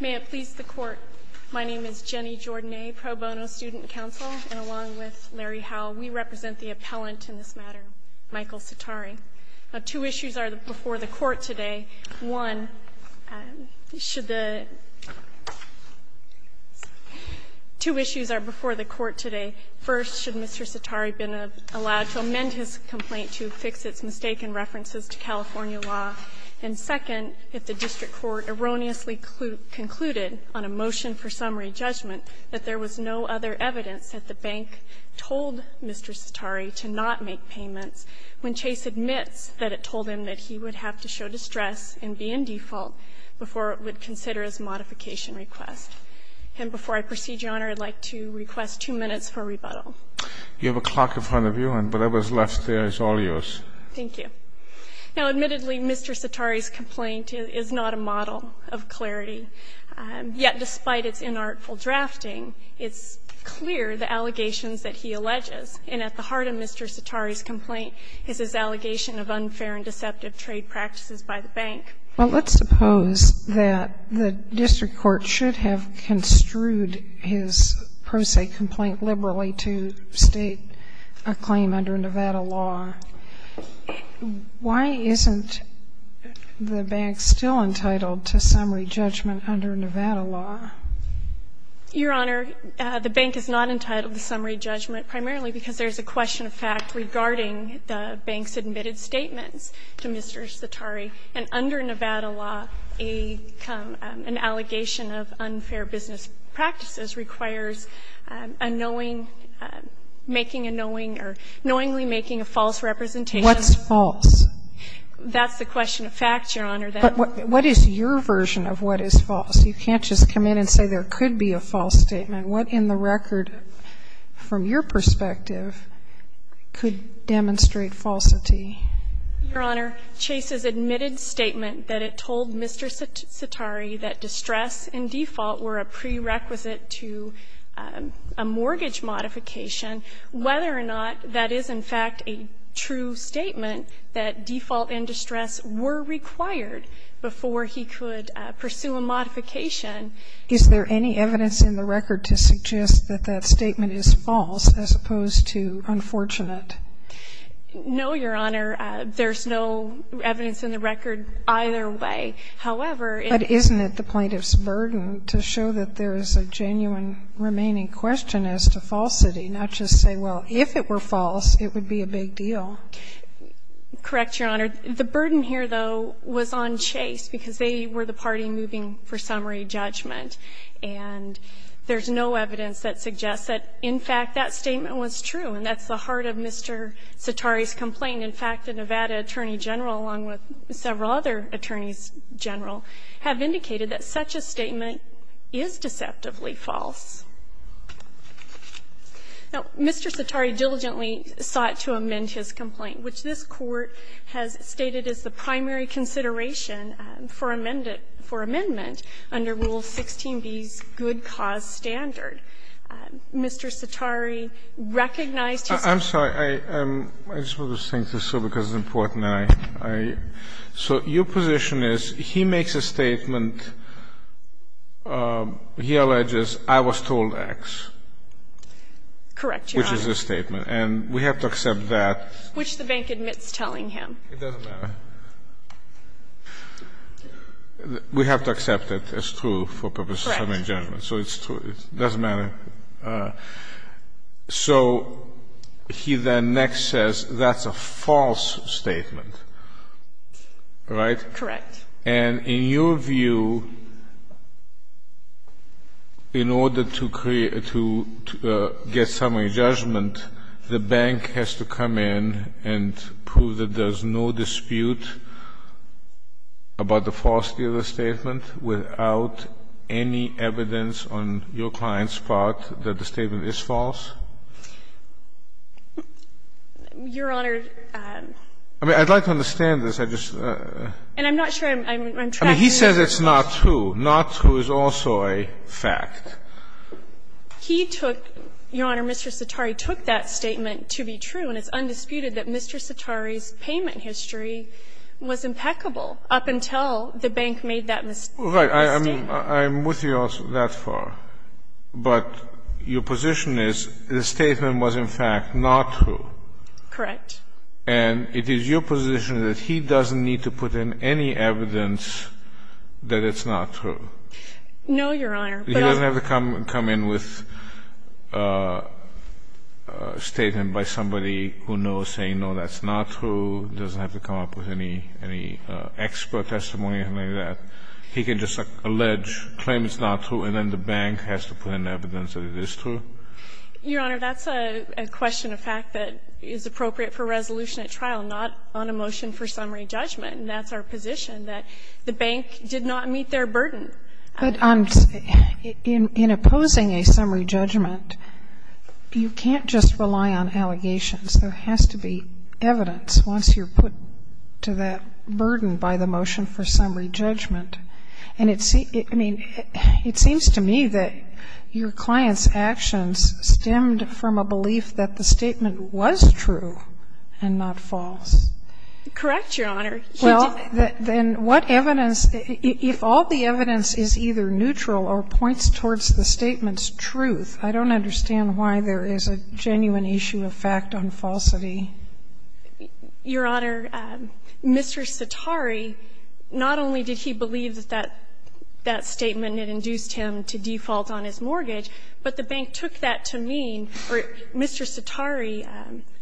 May it please the Court, my name is Jenny Jordanae, pro bono student counsel, and along with Larry Howell, we represent the appellant in this matter, Michael Sattari. Two issues are before the Court today. One, should the... The District Court erroneously concluded on a motion for summary judgment that there was no other evidence that the bank told Mr. Sattari to not make payments when Chase admits that it told him that he would have to show distress and be in default before it would consider his modification request. And before I proceed, Your Honor, I'd like to request two minutes for rebuttal. You have a clock in front of you, and whatever's left there is all yours. Thank you. Now, admittedly, Mr. Sattari's complaint is not a model of clarity. Yet, despite its inartful drafting, it's clear the allegations that he alleges. And at the heart of Mr. Sattari's complaint is his allegation of unfair and deceptive trade practices by the bank. Well, let's suppose that the District Court should have construed his pro se complaint liberally to state a claim under Nevada law. Why isn't the bank still entitled to summary judgment under Nevada law? Your Honor, the bank is not entitled to summary judgment primarily because there's a question of fact regarding the bank's admitted statements to Mr. Sattari. And under Nevada law, an allegation of unfair business practices requires a knowing making a knowing or knowingly making a false representation. What's false? That's the question of fact, Your Honor. But what is your version of what is false? You can't just come in and say there could be a false statement. What in the record, from your perspective, could demonstrate falsity? Your Honor, Chase's admitted statement that it told Mr. Sattari that distress and default were a prerequisite to a mortgage modification, whether or not that is in fact a true statement that default and distress were required before he could pursue a modification. Is there any evidence in the record to suggest that that statement is false as opposed to unfortunate? No, Your Honor. There's no evidence in the record either way. However, it isn't at the plaintiff's burden to show that there is a genuine remaining question as to falsity, not just say, well, if it were false, it would be a big deal. Correct, Your Honor. The burden here, though, was on Chase because they were the party moving for summary judgment. And there's no evidence that suggests that, in fact, that statement was true, and that's the heart of Mr. Sattari's complaint. And in fact, the Nevada Attorney General, along with several other attorneys general, have indicated that such a statement is deceptively false. Now, Mr. Sattari diligently sought to amend his complaint, which this Court has stated as the primary consideration for amendment under Rule 16b's good cause standard. Mr. Sattari recognized his complaint. I just want to think this through because it's important. So your position is he makes a statement. He alleges I was told X. Correct, Your Honor. Which is a statement. And we have to accept that. Which the bank admits telling him. It doesn't matter. We have to accept it as true for purpose of summary judgment. Correct. So it's true. It doesn't matter. So he then next says that's a false statement. Right? Correct. And in your view, in order to create to get summary judgment, the bank has to come in and prove that there's no dispute about the falsity of the statement without any evidence on your client's part that the statement is false? Your Honor. I mean, I'd like to understand this. I just. And I'm not sure I'm tracking you. I mean, he says it's not true. Not true is also a fact. He took, Your Honor, Mr. Sattari took that statement to be true, and it's undisputed that Mr. Sattari's payment history was impeccable up until the bank made that mistake. Right. I'm with you that far. But your position is the statement was, in fact, not true. Correct. And it is your position that he doesn't need to put in any evidence that it's not true. No, Your Honor. He doesn't have to come in with a statement by somebody who knows, saying, no, that's not true. He doesn't have to come up with any expert testimony or anything like that. He can just allege, claim it's not true, and then the bank has to put in evidence that it is true? Your Honor, that's a question of fact that is appropriate for resolution at trial, not on a motion for summary judgment. And that's our position, that the bank did not meet their burden. But in opposing a summary judgment, you can't just rely on allegations. There has to be evidence once you're put to that burden by the motion for summary judgment. And it seems to me that your client's actions stemmed from a belief that the statement was true and not false. Correct, Your Honor. Well, then what evidence, if all the evidence is either neutral or points towards truth, I don't understand why there is a genuine issue of fact on falsity. Your Honor, Mr. Sitari, not only did he believe that that statement had induced him to default on his mortgage, but the bank took that to mean, or Mr. Sitari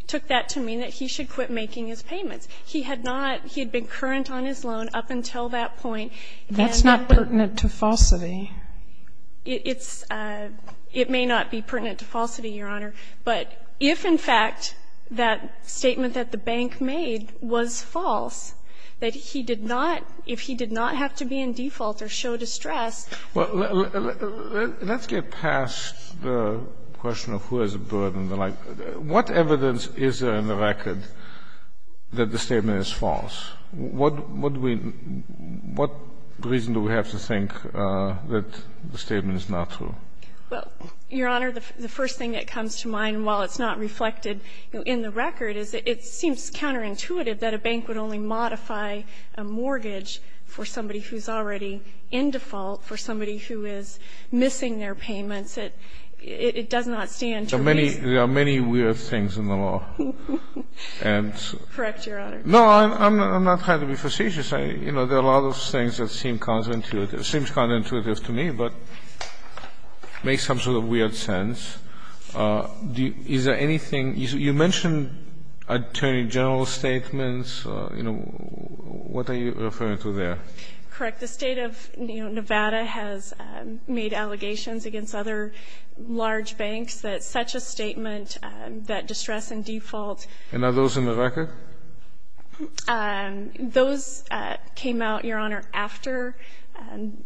took that to mean that he should quit making his payments. He had not been current on his loan up until that point. That's not pertinent to falsity. It's – it may not be pertinent to falsity, Your Honor. But if, in fact, that statement that the bank made was false, that he did not – if he did not have to be in default or show distress. Let's get past the question of who has a burden. What evidence is there in the record that the statement is false? What reason do we have to think that the statement is not true? Well, Your Honor, the first thing that comes to mind, while it's not reflected in the record, is it seems counterintuitive that a bank would only modify a mortgage for somebody who's already in default, for somebody who is missing their payments. It does not stand to reason. There are many weird things in the law. Correct, Your Honor. No, I'm not trying to be facetious. You know, there are a lot of things that seem counterintuitive. It seems counterintuitive to me, but makes some sort of weird sense. Is there anything – you mentioned attorney general's statements. You know, what are you referring to there? Correct. The State of Nevada has made allegations against other large banks that such a statement that distress in default. And are those in the record? Those came out, Your Honor, after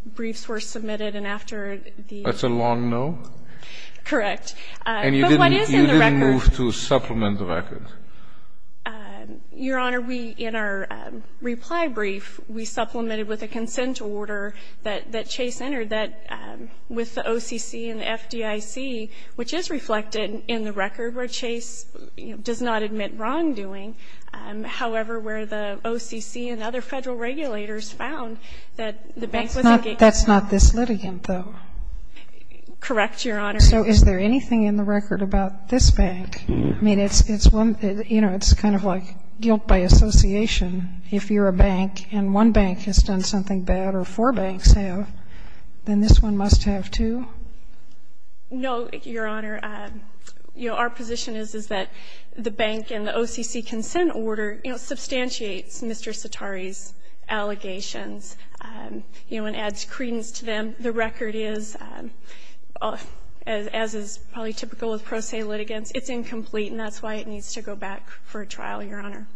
briefs were submitted and after the – That's a long no? Correct. But what is in the record? And you didn't move to supplement the record. Your Honor, we, in our reply brief, we supplemented with a consent order that Chase entered that with the OCC and the FDIC, which is reflected in the record where Chase does not admit wrongdoing, however, where the OCC and other Federal regulators found that the bank was engaged. That's not this litigant, though. Correct, Your Honor. So is there anything in the record about this bank? I mean, it's one – you know, it's kind of like guilt by association. If you're a bank and one bank has done something bad or four banks have, then this one must have, too? No, Your Honor. Our position is, is that the bank and the OCC consent order, you know, substantiates Mr. Sotari's allegations, you know, and adds credence to them. The record is, as is probably typical with pro se litigants, it's incomplete and that's why it needs to go back for a trial, Your Honor.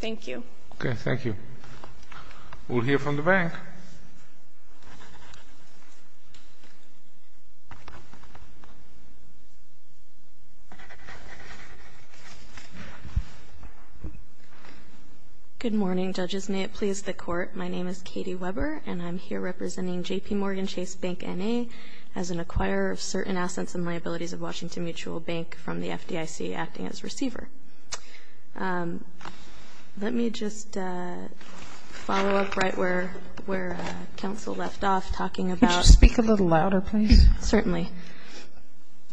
Thank you. Thank you. We'll hear from the bank. Good morning, judges. May it please the Court. My name is Katie Weber and I'm here representing JPMorgan Chase Bank N.A. as an acquirer of certain assets and liabilities of Washington Mutual Bank from the FDIC, acting as receiver. Let me just follow up right where counsel left off, talking about – Could you speak a little louder, please? Certainly.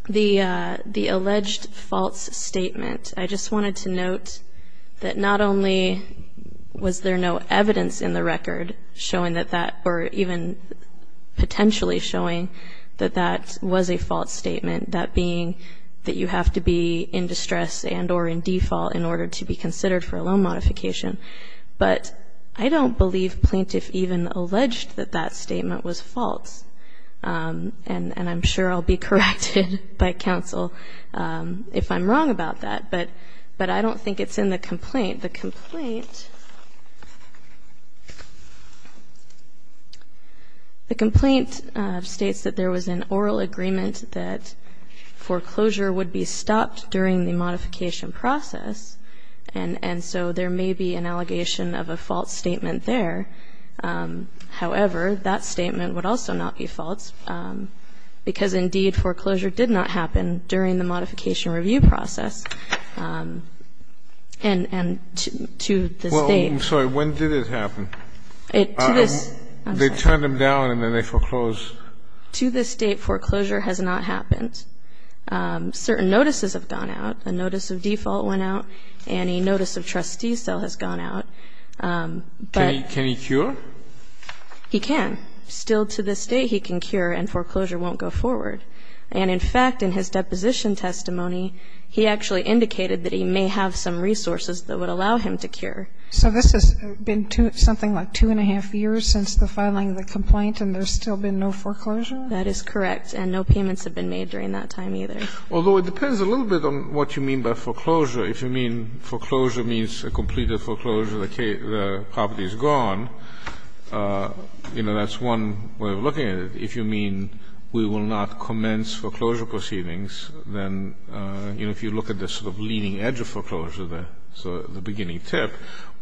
The alleged false statement. I just wanted to note that not only was there no evidence in the record showing that that – or even potentially showing that that was a false statement, that being that you have to be in distress and or in default in order to be considered for a loan modification, but I don't believe plaintiff even alleged that that statement was false. And I'm sure I'll be corrected by counsel if I'm wrong about that, but I don't think it's in the complaint. The complaint states that there was an oral agreement that foreclosure would be stopped during the modification process, and so there may be an allegation of a false statement there. However, that statement would also not be false, because indeed foreclosure did not happen during the modification review process. And to the state – Well, I'm sorry. When did it happen? To this – They turned them down and then they foreclosed. To this date, foreclosure has not happened. Certain notices have gone out. A notice of default went out. Any notice of trustee sale has gone out. But – Can he cure? He can. Still to this day he can cure and foreclosure won't go forward. And in fact, in his deposition testimony, he actually indicated that he may have some resources that would allow him to cure. So this has been something like two and a half years since the filing of the complaint and there's still been no foreclosure? That is correct. And no payments have been made during that time either. Although it depends a little bit on what you mean by foreclosure. If you mean foreclosure means a completed foreclosure, the property is gone, you know, that's one way of looking at it. If you mean we will not commence foreclosure proceedings, then if you look at the sort of leading edge of foreclosure, the beginning tip,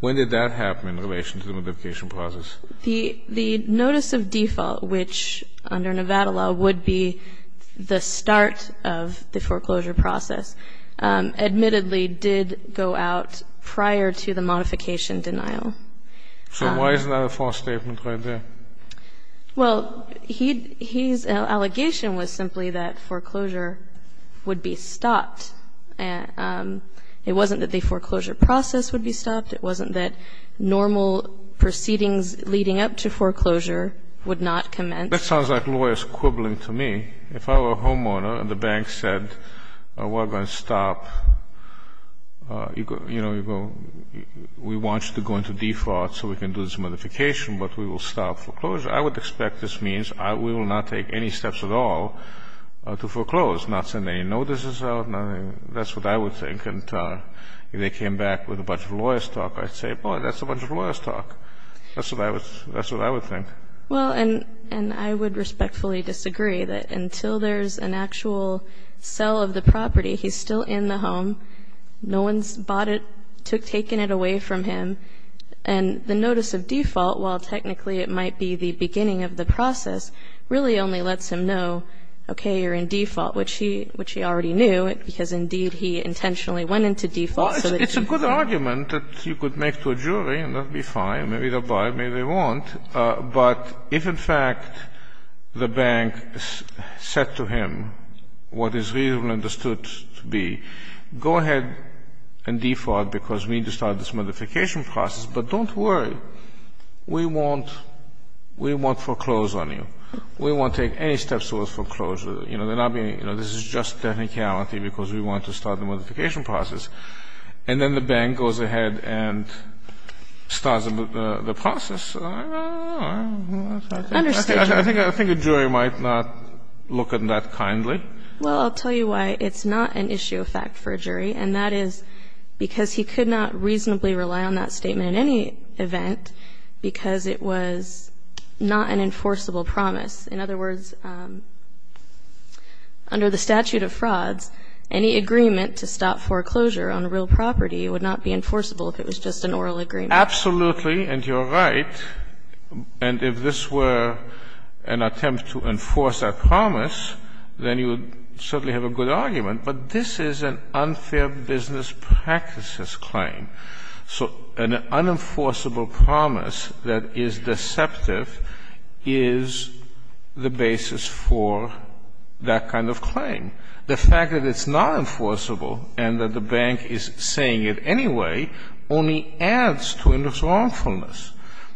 when did that happen in relation to the modification process? The notice of default, which under Nevada law would be the start of the foreclosure process, admittedly did go out prior to the modification denial. So why is that a false statement right there? Well, his allegation was simply that foreclosure would be stopped. It wasn't that the foreclosure process would be stopped. It wasn't that normal proceedings leading up to foreclosure would not commence. That sounds like lawyers quibbling to me. If I were a homeowner and the bank said we're going to stop, you know, we want you to go into default so we can do this modification, but we will stop foreclosure, I would expect this means we will not take any steps at all to foreclose, not send any notices out, nothing. That's what I would think. And if they came back with a bunch of lawyers' talk, I'd say, boy, that's a bunch of lawyers' talk. That's what I would think. Well, and I would respectfully disagree that until there's an actual sell of the property, he's still in the home. No one's bought it, taken it away from him. And the notice of default, while technically it might be the beginning of the process, really only lets him know, okay, you're in default, which he already knew, because indeed he intentionally went into default. Well, it's a good argument that you could make to a jury, and that would be fine. Maybe they'll buy it. Maybe they won't. But if, in fact, the bank said to him what is reasonably understood to be, go ahead and default because we need to start this modification process, but don't worry. We won't foreclose on you. We won't take any steps towards foreclosure. You know, this is just technicality because we want to start the modification process. And then the bank goes ahead and starts the process. I think a jury might not look at that kindly. Well, I'll tell you why it's not an issue of fact for a jury, and that is because he could not reasonably rely on that statement in any event because it was not an enforceable promise. In other words, under the statute of frauds, any agreement to stop foreclosure on a real property would not be enforceable if it was just an oral agreement. Absolutely. And you're right. And if this were an attempt to enforce that promise, then you would certainly have a good argument. But this is an unfair business practices claim. So an unenforceable promise that is deceptive is the basis for that kind of claim. The fact that it's not enforceable and that the bank is saying it anyway only adds to this wrongfulness.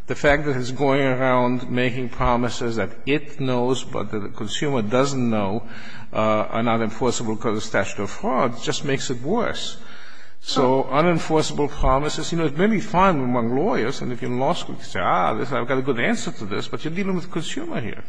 The fact that it's going around making promises that it knows but that the consumer doesn't know are not enforceable because of statute of frauds just makes it worse. So unenforceable promises, you know, it may be fine among lawyers, and if you're in law school you can say, ah, I've got a good answer to this, but you're dealing with a consumer here.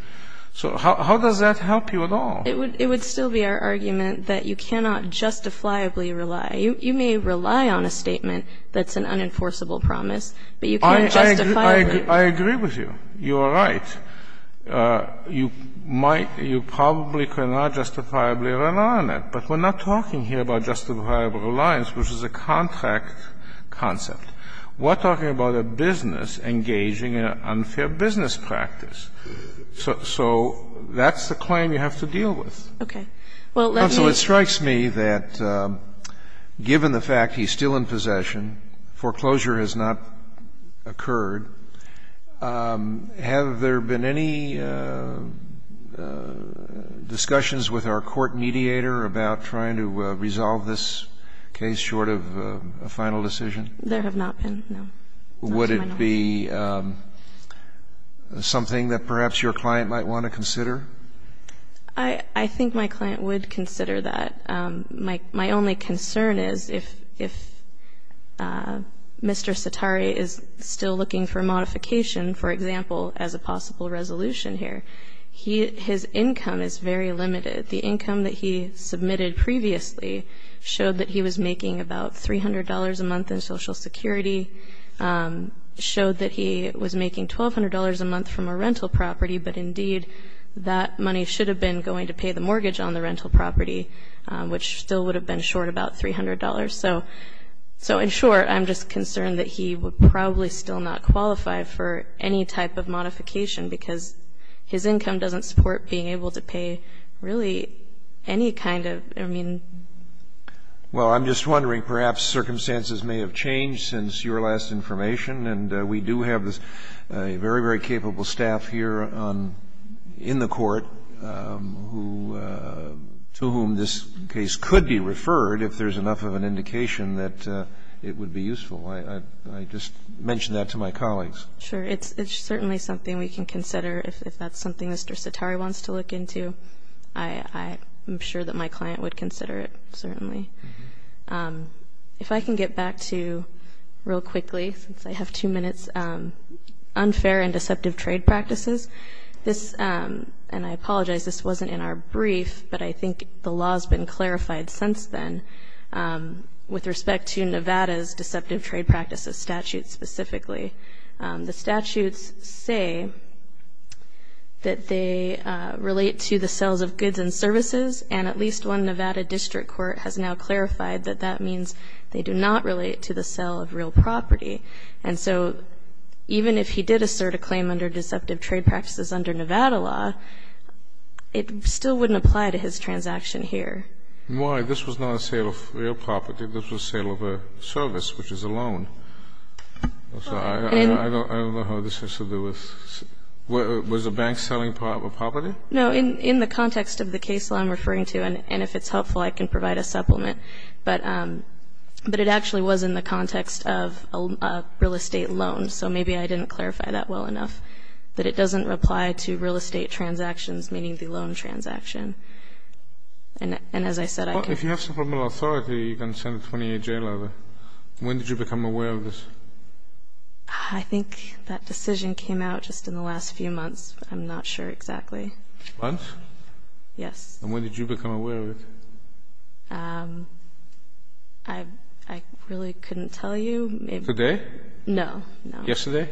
So how does that help you at all? It would still be our argument that you cannot justifiably rely. You may rely on a statement that's an unenforceable promise, but you can't justifiably I agree with you. You are right. You might, you probably cannot justifiably rely on it. But we're not talking here about justifiable reliance, which is a contract concept. We're talking about a business engaging in an unfair business practice. So that's the claim you have to deal with. Okay. Well, let me. It strikes me that given the fact he's still in possession, foreclosure has not occurred, have there been any discussions with our court mediator about trying to resolve this case short of a final decision? There have not been, no. Would it be something that perhaps your client might want to consider? I think my client would consider that. My only concern is if Mr. Satare is still looking for modification, for example, as a possible resolution here, his income is very limited. The income that he submitted previously showed that he was making about $300 a month in Social Security, showed that he was making $1,200 a month from a rental property, but indeed that money should have been going to pay the mortgage on the rental property, which still would have been short about $300. So in short, I'm just concerned that he would probably still not qualify for any type of modification because his income doesn't support being able to pay really any kind of, I mean. Well, I'm just wondering, perhaps circumstances may have changed since your last information, and we do have a very, very capable staff here in the court to whom this case could be referred if there's enough of an indication that it would be useful. I just mentioned that to my colleagues. Sure. It's certainly something we can consider. If that's something Mr. Satare wants to look into, I'm sure that my client would consider it, certainly. If I can get back to, real quickly, since I have two minutes, unfair and deceptive trade practices. This, and I apologize, this wasn't in our brief, but I think the law has been clarified since then with respect to Nevada's deceptive trade practices statute specifically. The statutes say that they relate to the sales of goods and services, and at least one Nevada district court has now clarified that that means they do not relate to the sale of real property. And so even if he did assert a claim under deceptive trade practices under Nevada law, it still wouldn't apply to his transaction here. Why? This was not a sale of real property. This was a sale of a service, which is a loan. I don't know how this has to do with was a bank selling property? No, in the context of the case law I'm referring to, and if it's helpful, I can provide a supplement. But it actually was in the context of a real estate loan, so maybe I didn't clarify that well enough, that it doesn't apply to real estate transactions, meaning the loan transaction. And as I said, I can't. If you have supplemental authority, you can send a 28-J letter. When did you become aware of this? I think that decision came out just in the last few months. I'm not sure exactly. Months? Yes. And when did you become aware of it? I really couldn't tell you. Today? No, no. Yesterday?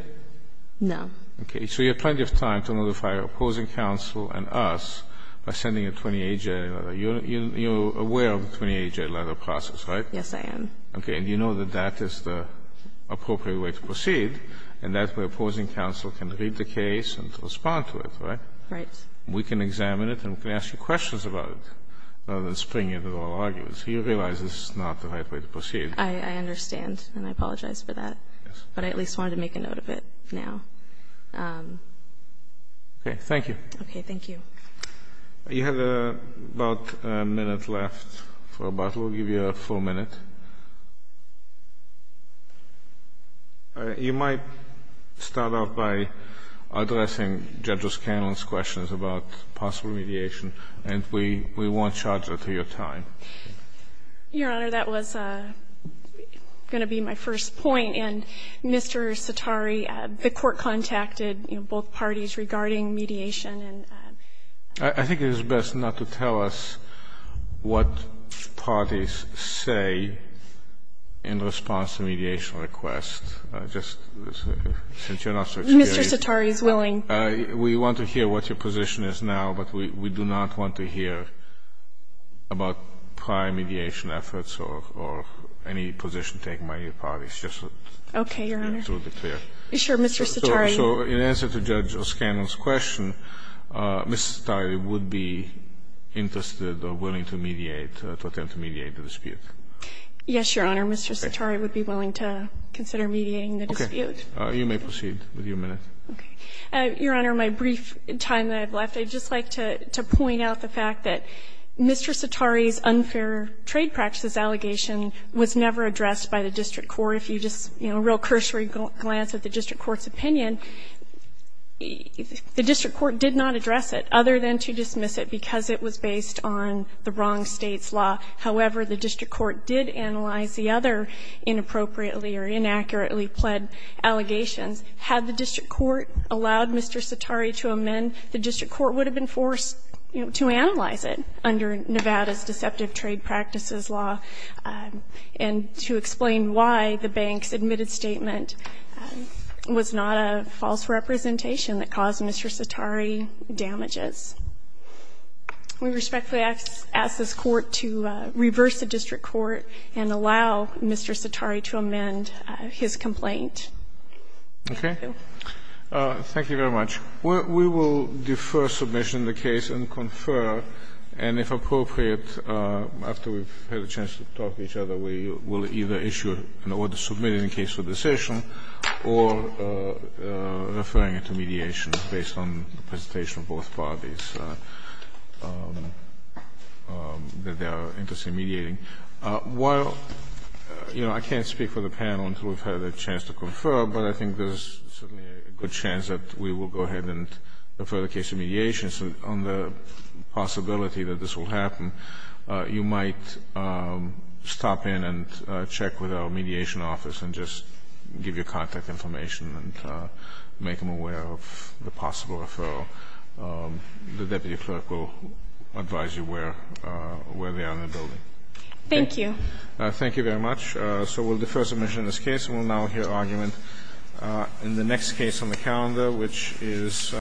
No. Okay. So you have plenty of time to notify opposing counsel and us by sending a 28-J letter. You're aware of the 28-J letter process, right? Yes, I am. Okay. And you know that that is the appropriate way to proceed, and that way opposing counsel can read the case and respond to it, right? Right. We can examine it, and we can ask you questions about it, rather than spring into all arguments. You realize this is not the right way to proceed. I understand, and I apologize for that. Yes. But I at least wanted to make a note of it now. Okay. Thank you. Okay. Thank you. You have about a minute left for a bottle. We'll give you a full minute. You might start off by addressing Judge O'Scanlan's questions about possible mediation, and we won't charge her to your time. Your Honor, that was going to be my first point. And Mr. Sitari, the Court contacted, you know, both parties regarding mediation. I think it is best not to tell us what parties say in response to mediation requests, just since you're not so experienced. Mr. Sitari is willing. We want to hear what your position is now, but we do not want to hear about prior mediation efforts or any position taken by your parties. Okay, Your Honor. Just to be clear. Sure, Mr. Sitari. So in answer to Judge O'Scanlan's question, Ms. Sitari would be interested or willing to mediate, to attempt to mediate the dispute? Yes, Your Honor. Mr. Sitari would be willing to consider mediating the dispute. Okay. You may proceed with your minute. Okay. Your Honor, my brief time that I have left, I'd just like to point out the fact that Mr. Sitari's unfair trade practices allegation was never addressed by the district court. Or if you just, you know, a real cursory glance at the district court's opinion, the district court did not address it, other than to dismiss it because it was based on the wrong State's law. However, the district court did analyze the other inappropriately or inaccurately pled allegations. Had the district court allowed Mr. Sitari to amend, the district court would have been forced, you know, to analyze it under Nevada's deceptive trade practices law and to explain why the bank's admitted statement was not a false representation that caused Mr. Sitari damages. We respectfully ask this Court to reverse the district court and allow Mr. Sitari to amend his complaint. Thank you. Okay. Thank you very much. We will defer submission of the case and confer, and if appropriate, after we've had a chance to talk to each other, we will either issue an order submitting the case for decision or referring it to mediation based on the presentation of both parties that they are interested in mediating. While, you know, I can't speak for the panel until we've had a chance to confer, but I think there's certainly a good chance that we will go ahead and defer the case to mediation. If you have any questions on the possibility that this will happen, you might stop in and check with our mediation office and just give your contact information and make them aware of the possible referral. The deputy clerk will advise you where they are in the building. Thank you. Thank you very much. So we'll defer submission of this case. We'll now hear argument in the next case on the calendar, which is